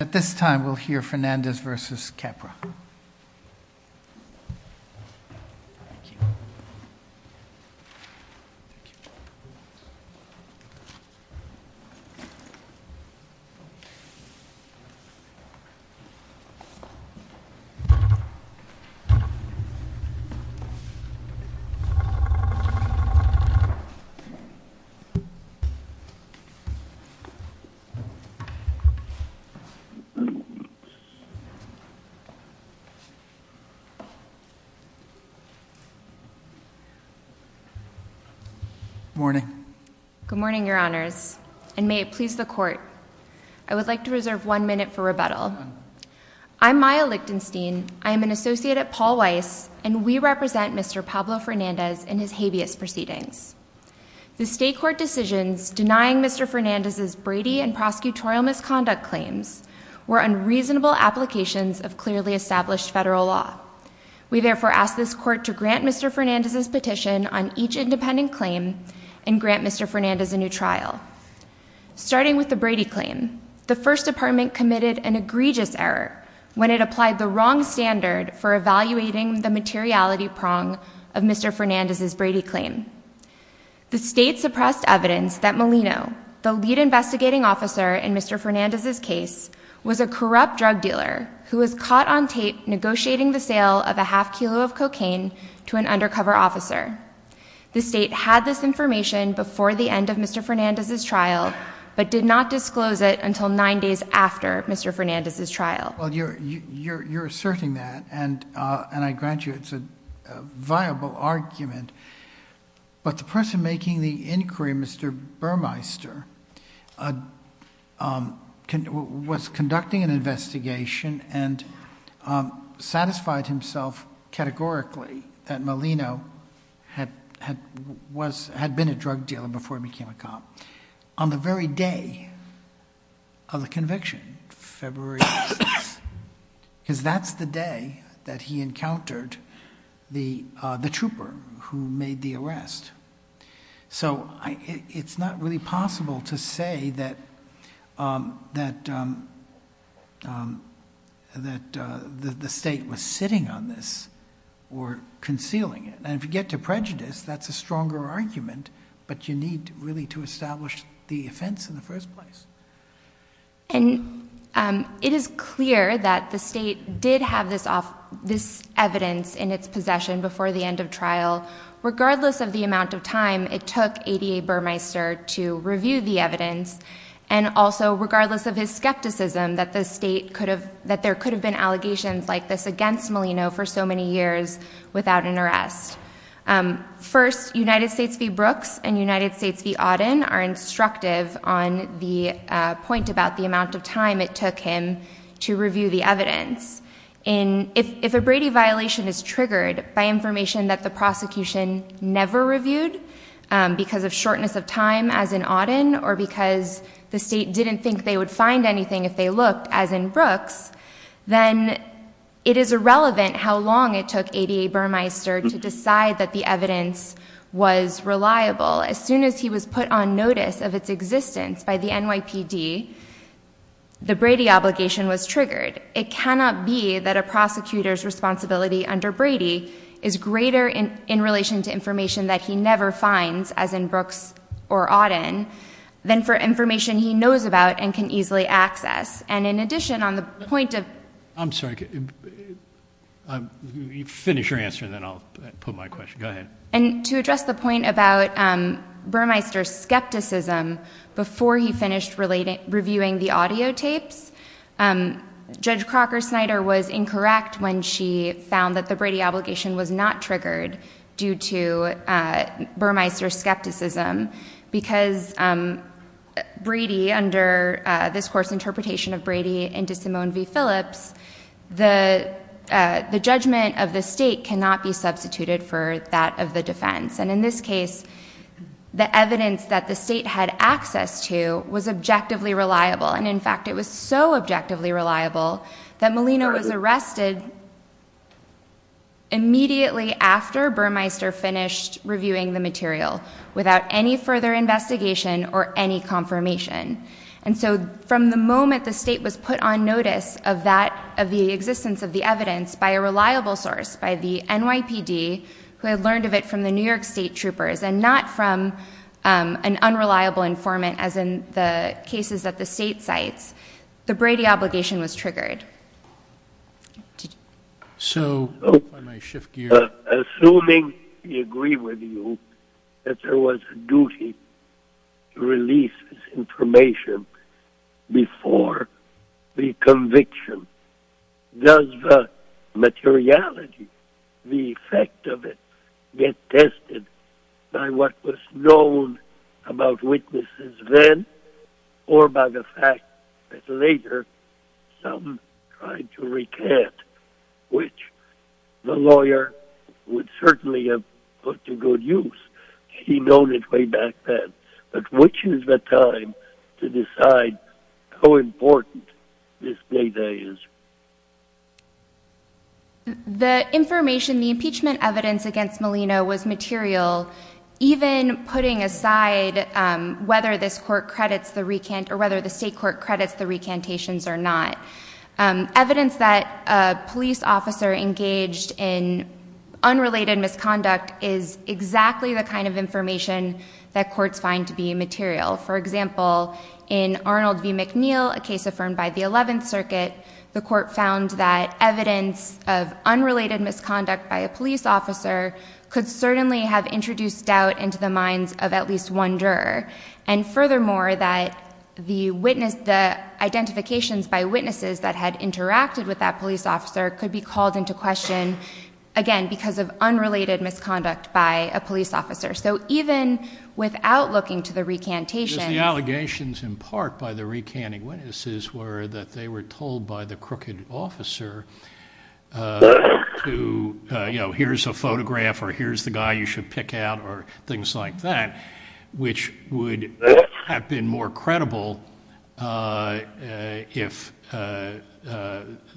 At this time, we'll hear Fernandez v. Capra. Good morning, your honors, and may it please the court. I would like to reserve one minute for rebuttal. I'm Maya Lichtenstein. I am an associate at Paul Weiss, and we represent Mr. Pablo Fernandez and his habeas proceedings. The state court decisions denying Mr. Fernandez's prosecutorial misconduct claims were unreasonable applications of clearly established federal law. We therefore ask this court to grant Mr. Fernandez's petition on each independent claim and grant Mr. Fernandez a new trial. Starting with the Brady claim, the first department committed an egregious error when it applied the wrong standard for evaluating the materiality prong of Mr. Fernandez's Brady claim. The state suppressed evidence that Molino, the lead investigating officer in Mr. Fernandez's case, was a corrupt drug dealer who was caught on tape negotiating the sale of a half kilo of cocaine to an undercover officer. The state had this information before the end of Mr. Fernandez's trial, but did not disclose it until nine days after Mr. Fernandez's trial. Well, you're asserting that, and I grant you it's a viable argument, but the person making the inquiry, Mr. Burmeister, was conducting an investigation and satisfied himself categorically that Molino had been a drug dealer before he became a cop. On the very day of the conviction, February 6th, because that's the day that he encountered the trooper who made the arrest. So it's not really possible to say that the state was sitting on this or concealing it. And if you get to prejudice, that's a stronger argument, but you need really to establish the offense in the first place. And it is clear that the state did have this evidence in its possession before the end of trial. Regardless of the amount of time it took ADA Burmeister to review the evidence, and also regardless of his skepticism that there could have been allegations like this against Molino for so many years without an arrest. First, United States v. Brooks and United States v. Auden are instructive on the point about the amount of time it took him to review the evidence. If a Brady violation is triggered by information that the prosecution never reviewed because of shortness of time, as in Auden, or because the state didn't think they would find anything if they looked, as in Brooks, then it is irrelevant how long it took ADA Burmeister to decide that the evidence was reliable. As soon as he was put on notice of its existence by the NYPD, the Brady obligation was triggered. It cannot be that a prosecutor's responsibility under Brady is greater in relation to information that he never finds, as in Brooks or Auden, than for information he knows about and can easily access. And in addition, on the point of... I'm sorry. Finish your answer and then I'll put my question. Go ahead. And to address the point about Burmeister's skepticism, before he finished reviewing the audio tapes, Judge Crocker Snyder was incorrect when she found that the Brady obligation was of Brady into Simone v. Phillips, the judgment of the state cannot be substituted for that of the defense. And in this case, the evidence that the state had access to was objectively reliable. And in fact, it was so objectively reliable that Molina was arrested immediately after Burmeister finished reviewing the material without any further investigation or any confirmation. And so from the moment the state was put on notice of that, of the existence of the evidence by a reliable source, by the NYPD, who had learned of it from the New York state troopers and not from an unreliable informant, as in the cases that the state cites, the Brady obligation was triggered. So... before the conviction. Does the materiality, the effect of it, get tested by what was known about witnesses then or by the fact that later some tried to recant, which the lawyer would have to decide how important this data is? The information, the impeachment evidence against Molina was material, even putting aside whether this court credits the recant, or whether the state court credits the recantations or not. Evidence that a police officer engaged in unrelated misconduct is exactly the kind of information that courts find to be material. For example, in Arnold v. McNeil, a case affirmed by the Eleventh Circuit, the court found that evidence of unrelated misconduct by a police officer could certainly have introduced doubt into the minds of at least one juror. And furthermore, that the witness... the identifications by witnesses that had interacted with that police officer could be called into question, again, because of unrelated misconduct by a police officer. So even without looking to the recantations... Because the allegations in part by the recanting witnesses were that they were told by the crooked officer to, you know, here's a photograph or here's the guy you should pick out or things like that, which would have been more credible if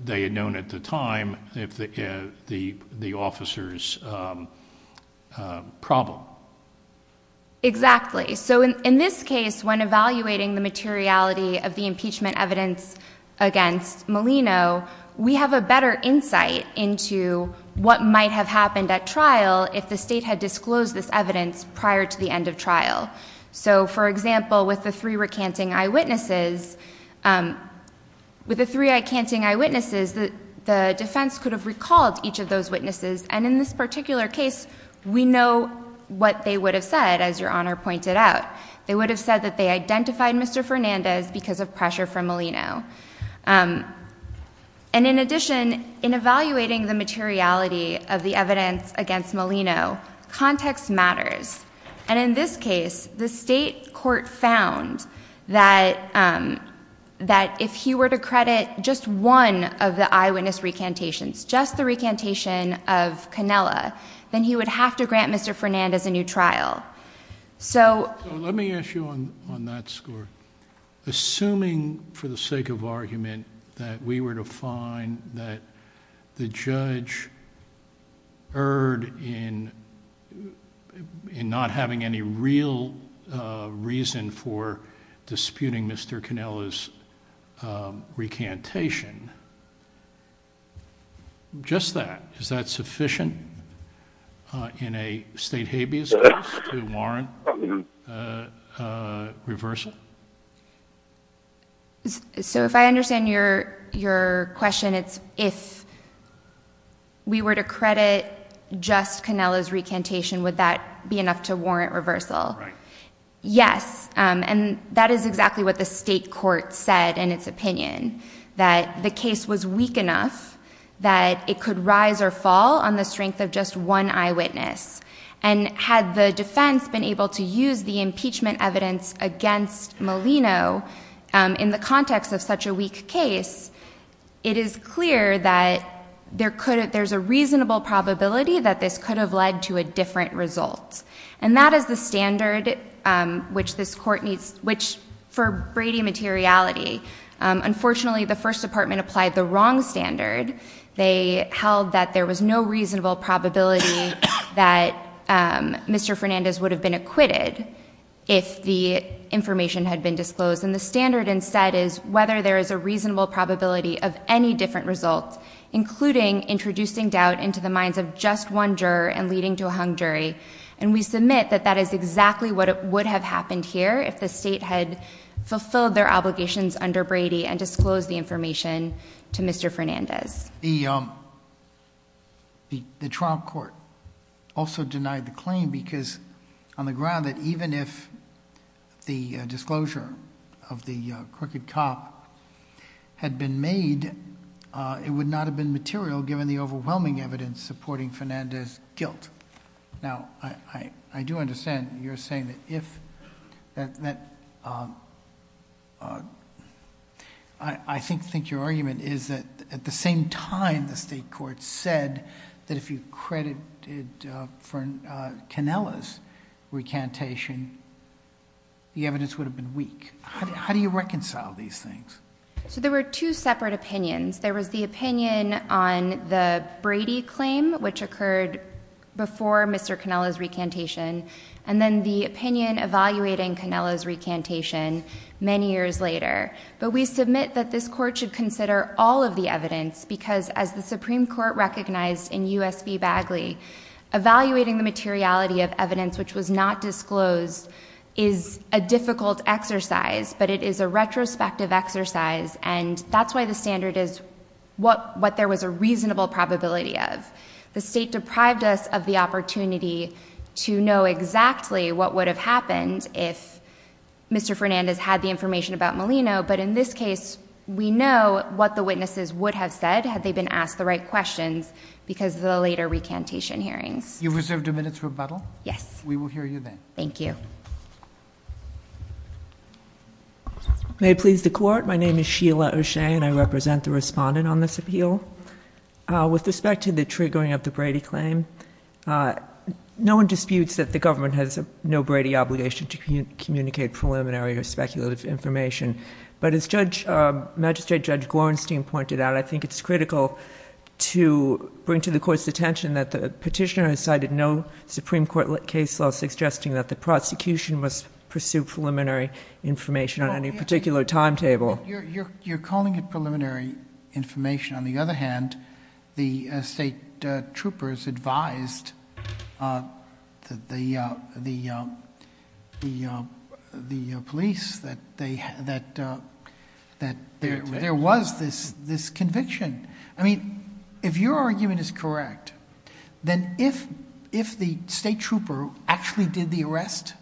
they had known at the time if the officers were involved in that particular problem. Exactly. So in this case, when evaluating the materiality of the impeachment evidence against Molino, we have a better insight into what might have happened at trial if the state had disclosed this evidence prior to the end of trial. So for example, with the three recanting eyewitnesses... with the three recanting eyewitnesses, the defense could have recalled each of those witnesses. And in this particular case, we know what they would have said, as Your Honor pointed out. They would have said that they identified Mr. Fernandez because of pressure from Molino. And in addition, in evaluating the materiality of the evidence against Molino, context matters. And in this case, the state court found that if he were to credit just one of the eyewitness recantations, just the recantation of Cannella, then he would have to grant Mr. Fernandez a new trial. So let me ask you on that score. Assuming, for the sake of argument, that we were to find that the judge erred in not having any real reason for disputing Mr. Cannella's recantation, just that, is that sufficient in a state habeas case to warrant reversal? So if I understand your question, it's if we were to credit just Cannella's recantation, would that be enough to warrant reversal? Right. Yes. And that is exactly what the state court said in its opinion, that the case was weak enough that it could rise or fall on the strength of just one eyewitness. And had the defense been able to use the impeachment evidence against Molino in the context of such a weak case, it is clear that there's a reasonable probability that this could have led to a different result. And that is the standard which this court needs, which for Brady materiality, unfortunately the first department applied the wrong standard. They held that there was no reasonable probability that Mr. Fernandez would have been acquitted if the information had been disclosed. And the standard instead is whether there is a reasonable probability of any different result, including introducing doubt into the minds of just one juror and leading to a hung jury. And we submit that that is exactly what would have happened here if the state had fulfilled their obligations under Brady and disclosed the information to Mr. Fernandez. The Trump court also denied the claim because on the ground that even if the disclosure of the crooked cop had been made, it would not have been material given the overwhelming evidence supporting Fernandez's guilt. Now, I do understand you're saying that if, that I think your argument is that at the same time the state court said that if you credited Fernandez's recantation, the evidence would have been weak. How do you reconcile these things? So there were two separate opinions. There was the opinion on the Brady claim, which occurred before Mr. Cannella's recantation, and then the opinion evaluating Cannella's recantation many years later. But we submit that this court should consider all of the evidence because as the Supreme Court recognized in U.S. v. Bagley, evaluating the materiality of evidence which was not disclosed is a difficult exercise, but it is a retrospective exercise and that's why the standard is what there was a reasonable probability of. The state deprived us of the opportunity to know exactly what would have happened if Mr. Fernandez had the information about Molino, but in this case we know what the witnesses would have said had they been asked the right questions because of the later recantation hearings. You've reserved a minute to rebuttal? Yes. We will hear you then. Thank you. May it please the court, my name is Sheila O'Shea and I represent the respondent on this appeal. With respect to the triggering of the Brady claim, no one disputes that the government has no Brady obligation to communicate preliminary or speculative information, but as Magistrate Judge Gorenstein pointed out, I think it's critical to bring to the court's notice I did no Supreme Court case laws suggesting that the prosecution must pursue preliminary information on any particular timetable. You're calling it preliminary information. On the other hand, the state troopers advised the police that there was this conviction. I mean, if your argument is correct, then if the state trooper actually did the arrest,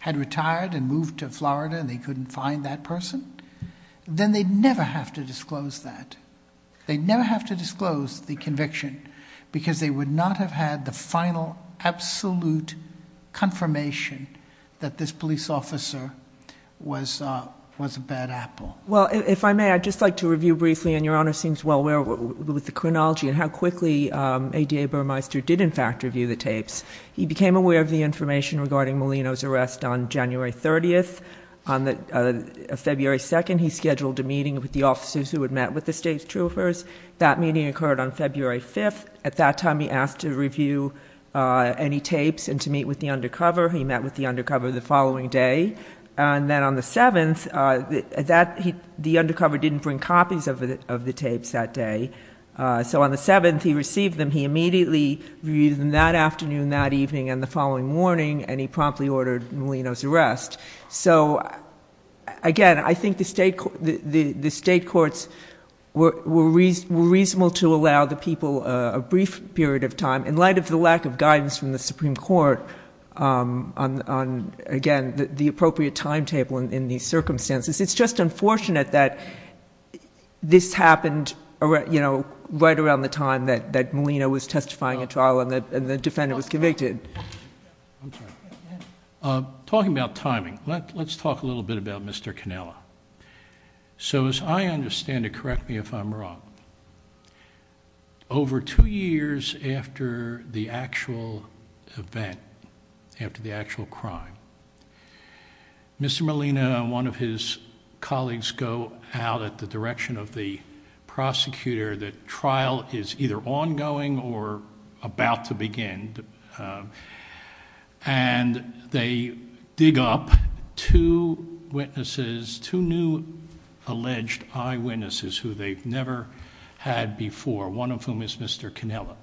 had retired and moved to Florida and they couldn't find that person, then they'd never have to disclose that. They'd never have to disclose the conviction because they would not have had the final, absolute confirmation that this police officer was a bad apple. Well, if I may, I'd just like to review briefly, and your Honor seems well aware with the chronology and how quickly ADA Burmeister did, in fact, review the tapes. He became aware of the information regarding Molino's arrest on January 30th. On February 2nd, he scheduled a meeting with the officers who had met with the state troopers. That meeting occurred on February 5th. At that time, he asked to review any tapes and to meet with the undercover. He met with the undercover the following day, and then on the 7th, the undercover didn't bring copies of the tapes that day. So on the 7th, he received them. He immediately reviewed them that afternoon, that evening, and the following morning, and he promptly ordered Molino's arrest. So again, I think the state courts were reasonable to allow the people a brief period of time in light of the lack of guidance from the Supreme Court on, again, the appropriate timetable in these circumstances. It's just unfortunate that this happened right around the time that Molino was testifying at trial and the defendant was convicted. Talking about timing, let's talk a little bit about Mr. Cannella. So as I understand it, correct me if I'm wrong, over two years after the actual event, after the actual crime, Mr. Molino and one of his colleagues go out at the direction of the prosecutor that trial is either ongoing or about to begin, and they dig up two witnesses, two new alleged eyewitnesses who they've never had before, one of whom is Mr. Cannella.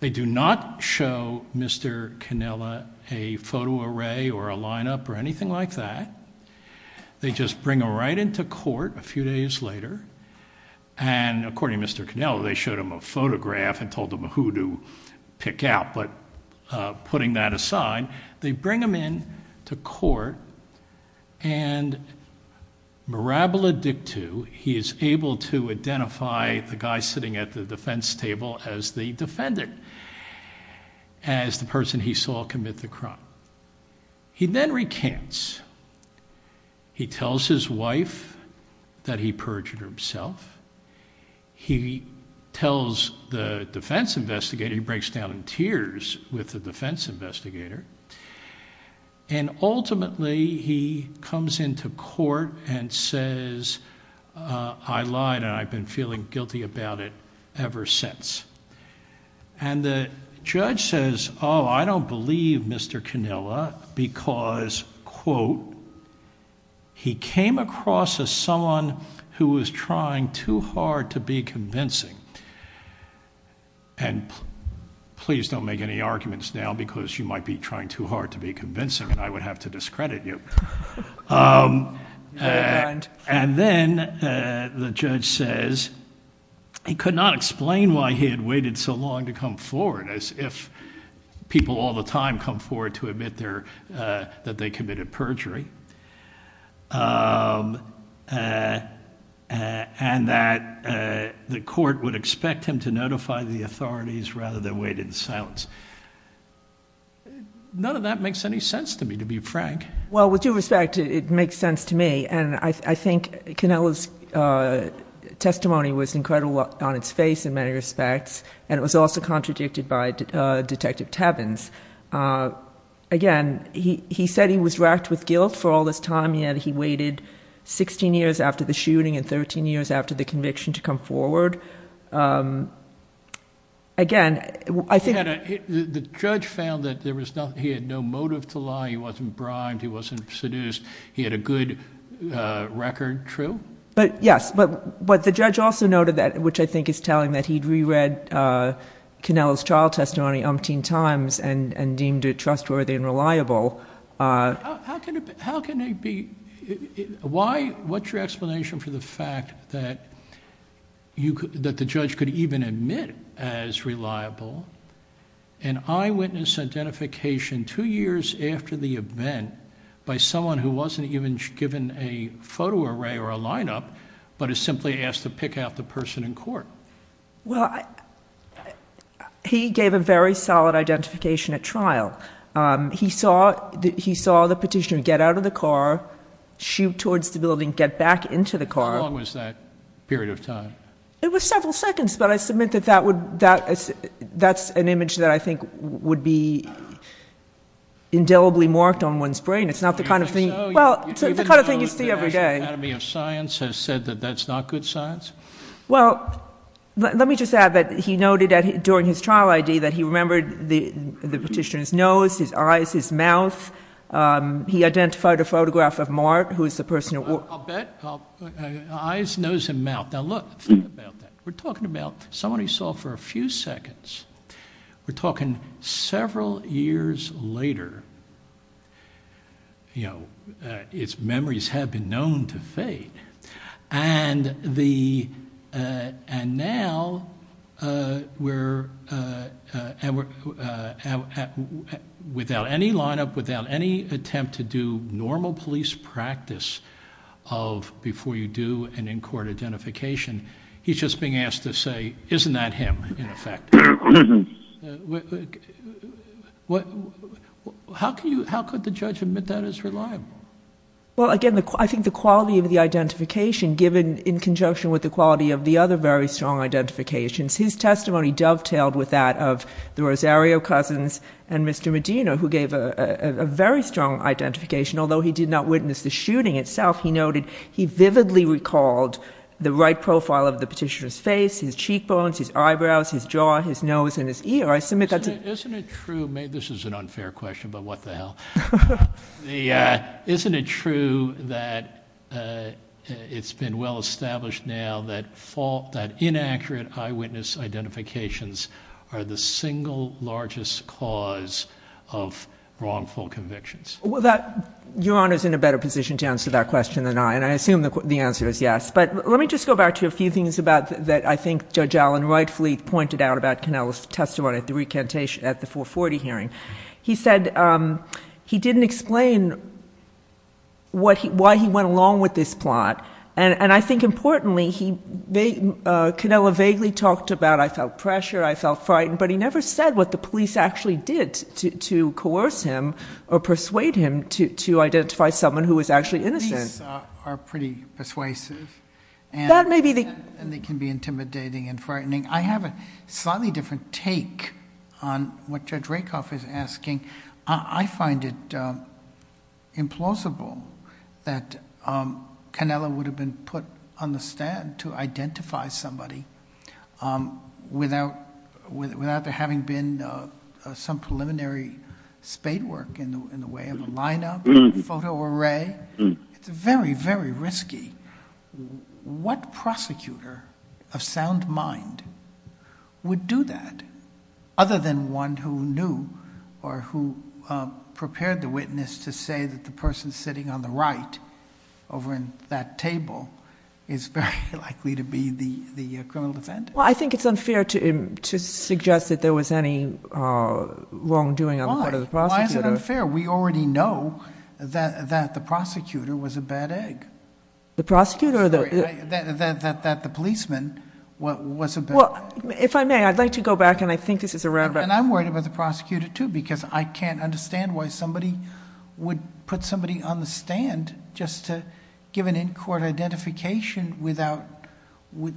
They do not show Mr. Cannella a photo array or a lineup or anything like that. They just bring him right into court a few days later, and according to Mr. Cannella, they showed him a photograph and told him who to pick out, but putting that aside, they bring him in to court and mirabiladictu, he is able to identify the guy sitting at the defense table as the defendant, as the person he saw commit the crime. He then recants. He tells his wife that he perjured himself. He tells the defense investigator, he breaks down in tears with the defense investigator, and ultimately he comes into court and says, I lied and I've been feeling guilty about it ever since, and the judge says, oh, I don't believe Mr. Cannella because, quote, he came across as someone who was trying too hard to be convincing, and please don't make any arguments now because you might be trying too hard to be convincing and I would have to discredit you, and then the judge says, again, I don't believe Mr. Cannella because he could not explain why he had waited so long to come forward, as if people all the time come forward to admit that they committed perjury, and that the court would expect him to notify the authorities rather than wait in silence. None of that makes any sense to me, to be frank. Well, with due respect, it makes sense to me, and I think Cannella's testimony was incredibly blunt in many respects, and it was also contradicted by Detective Tevins. Again, he said he was wracked with guilt for all this time, he waited 16 years after the shooting and 13 years after the conviction to come forward. Again, I think... The judge found that he had no motive to lie, he wasn't bribed, he wasn't seduced, he had a good record, true? Yes, but the judge also noted that, which I think is telling, that he'd re-read Cannella's trial testimony umpteen times and deemed it trustworthy and reliable. How can it be... What's your explanation for the fact that the judge could even admit as reliable an eyewitness identification two years after the event by someone who wasn't even given a photo array or a line-up, but is simply asked to pick out the person in court? Well, he gave a very solid identification at trial. He saw the petitioner get out of the car, shoot towards the building, get back into the car. How long was that period of time? It was several seconds, but I submit that that's an image that I think would be indelibly marked on one's brain. It's not the kind of thing... Well, it's the kind of thing you see every day. You didn't note that the National Academy of Science has said that that's not good science? Well, let me just add that he noted during his trial ID that he remembered the petitioner's nose, his eyes, his mouth. He identified a photograph of Mart, who is the person... I'll bet eyes, nose, and mouth. Now look, think about that. We're talking about someone you saw for a few seconds. We're talking several years later. Its memories have been known to fate. Now, without any line-up, without any attempt to do normal police practice of before you do an in-court identification, he's just being asked to say, isn't that him? How could the judge admit that as reliable? Well, again, I think the quality of the identification, given in conjunction with the quality of the other very strong identifications, his testimony dovetailed with that of the Rosario cousins and Mr. Medina, who gave a very strong identification. Although he did not witness the shooting itself, he noted he vividly recalled the right profile of the petitioner's face, his cheekbones, his eyebrows, his jaw, his nose, and his ear. I submit that's... Isn't it true... This is an unfair question, but what the hell. Isn't it true that it's been well-established now that inaccurate eyewitness identifications are the single largest cause of wrongful convictions? Well, Your Honor's in a better position to answer that question than I, and I assume the answer is yes. But let me just go back to a few things that I think Judge Allen rightfully pointed out about Cannella's testimony at the 440 hearing. He said he didn't explain why he went along with this plot, and I think importantly, Cannella vaguely talked about I felt pressure, I felt frightened, but he never said what the police actually did to persuade him to identify someone who was actually innocent. These are pretty persuasive, and they can be intimidating and frightening. I have a slightly different take on what Judge Rakoff is asking. I find it implausible that Cannella would have been put on the stand to identify somebody without there having been some preliminary spade work in the way of a lineup, photo array. It's very, very risky. What prosecutor of sound mind would do that other than one who knew or who prepared the witness to say that the person sitting on the right over in that table is very likely to be the criminal defendant? I think it's unfair to suggest that there was any wrongdoing on the part of the prosecutor. Why is it unfair? We already know that the prosecutor was a bad egg. The prosecutor? That the policeman was a bad egg. If I may, I'd like to go back, and I think this is a roundabout... I'm worried about the prosecutor, too, because I can't understand why somebody would put somebody on the stand just to give an in-court identification without any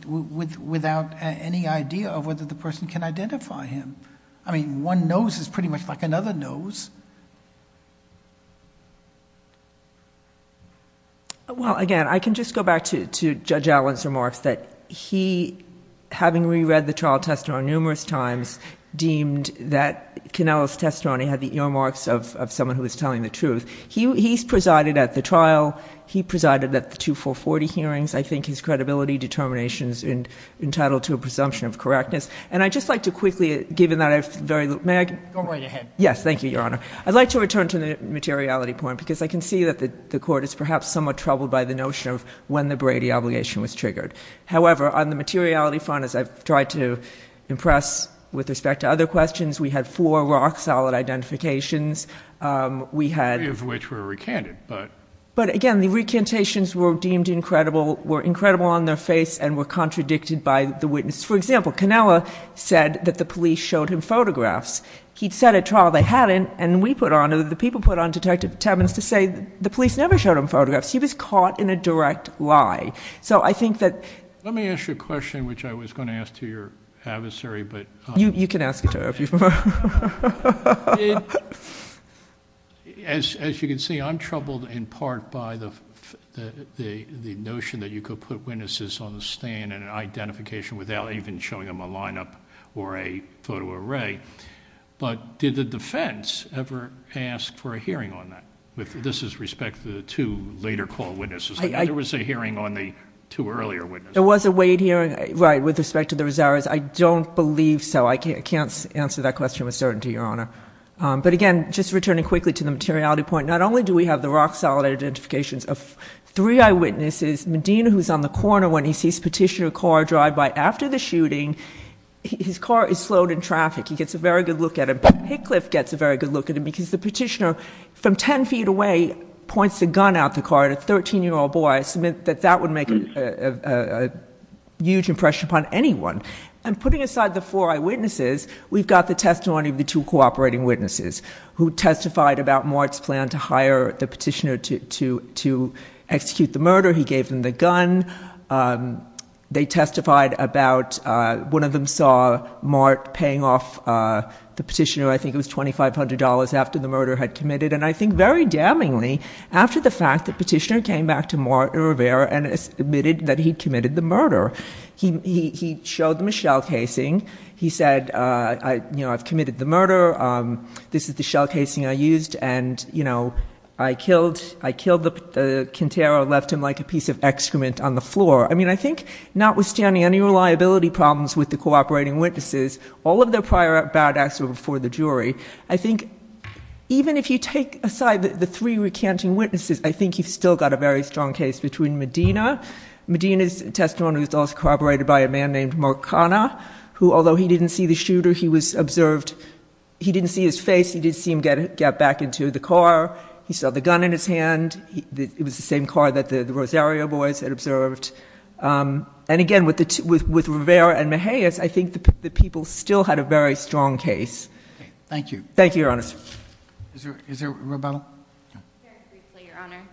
evidence. Any idea of whether the person can identify him. I mean, one nose is pretty much like another nose. Well, again, I can just go back to Judge Allen's remarks that he, having re-read the trial testimony numerous times, deemed that Cannella's testimony had the earmarks of someone who was telling the truth. He's presided at the trial. He presided at the two 440 hearings. I think his credibility determination is entitled to a presumption of correctness. And I'd just like to quickly, given that I've... Go right ahead. Yes, thank you, Your Honor. I'd like to return to the materiality point, because I can see that the Court is perhaps somewhat troubled by the notion of when the Brady obligation was triggered. However, on the materiality front, as I've tried to impress with respect to other questions, we had four rock-solid identifications. Three of which were recanted, but... Were incredible on their face and were contradicted by the witness. For example, Cannella said that the police showed him photographs. He'd said at trial they hadn't, and we put on... the people put on Detective Timmons to say the police never showed him photographs. He was caught in a direct lie. So I think that... Let me ask you a question, which I was going to ask to your adversary, but... You can ask it to her if you prefer. As you can see, I'm troubled in part by the notion that you could put witnesses on the stand in an identification without even showing them a lineup or a photo array, but did the defense ever ask for a hearing on that, with this is respect to the two later call witnesses? There was a hearing on the two earlier witnesses. There was a Wade hearing, right, with respect to the Rosarios. I don't believe so. I can't answer that question with certainty, Your Honor. But again, just returning quickly to the materiality point, not only do we have the rock-solid identifications of three eyewitnesses, Medina, who's on the corner when he sees Petitioner car drive by after the shooting, his car is slowed in traffic. He gets a very good look at him. Hickliffe gets a very good look at him because the Petitioner, from 10 feet away, points a gun out the car at a 13-year-old boy. I submit that that would make a huge impression upon anyone. And putting aside the four eyewitnesses, we've got the testimony of the two cooperating witnesses who testified about Mart's plan to hire the Petitioner to execute the murder. He gave them the gun. They testified about, one of them saw Mart paying off the Petitioner, I think it was $2,500, after the murder had committed. And I think very damningly, after the fact, the Petitioner came back to Mart and Rivera and admitted that he'd committed the murder. He showed them a shell casing. He said, you know, I've committed the murder. This is the shell casing I used. And, you know, I killed Quintero and left him like a piece of excrement on the floor. I mean, I think notwithstanding any reliability problems with the cooperating witnesses, all of their prior bad acts were before the jury. I think even if you take aside the three recanting witnesses, I think you've still got a very strong case. I think the people still had a very strong case. Thank you. Thank you, Your Honor. Is there a rebuttal? Very briefly, Your Honor.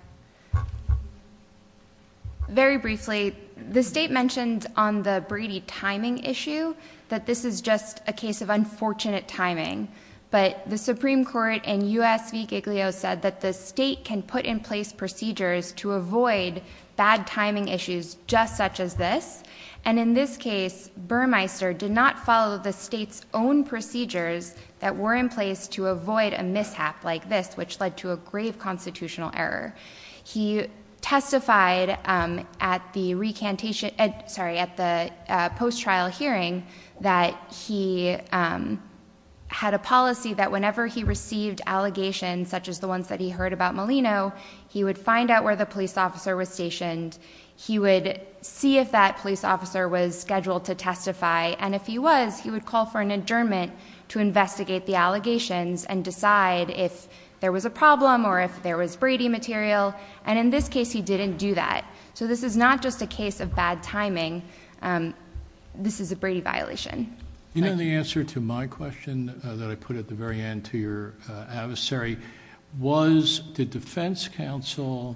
Very briefly, the State mentioned on the Brady timing issue that this is just a case of unfortunate timing. But the Supreme Court in U.S. v. Giglio said that the State can put in place procedures to avoid bad timing issues just such as this. And in this case, Burmeister did not follow the State's own procedures that were in place to avoid a mishap like this, which led to a grave constitutional error. He testified at the post-trial hearing that he had a policy that whenever he received allegations such as the ones that he heard about Molino, he would find out where the police officer was stationed. He would see if that police officer was scheduled to testify. And if he was, he would call for an adjournment to investigate the allegations and decide if there was a problem or if there was Brady material. And in this case, he didn't do that. So this is not just a case of bad timing. This is a Brady violation. You know, the answer to my question that I put at the very end to your adversary, was did defense counsel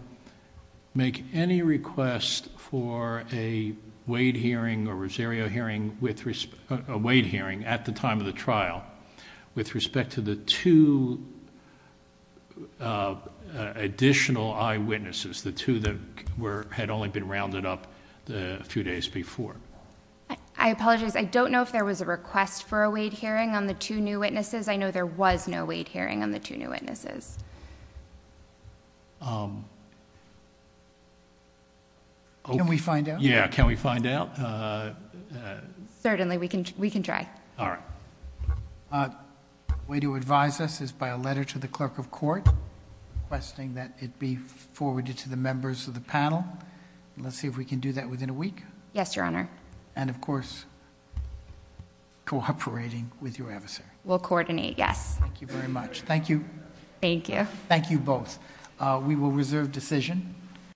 make any request for a Wade hearing or Rosario hearing with Rosario a Wade hearing at the time of the trial with respect to the two additional eyewitnesses, the two that had only been rounded up a few days before? I apologize. I don't know if there was a request for a Wade hearing on the two new witnesses. I know there was no Wade hearing on the two new witnesses. Can we find out? Yeah. Can we find out? Certainly. We can try. All right. A way to advise us is by a letter to the clerk of court requesting that it be forwarded to the members of the panel. Let's see if we can do that within a week. Yes, Your Honor. And of course, cooperating with your adversary. We'll coordinate, yes. Thank you very much. Thank you. Thank you. Thank you both. We will reserve decision.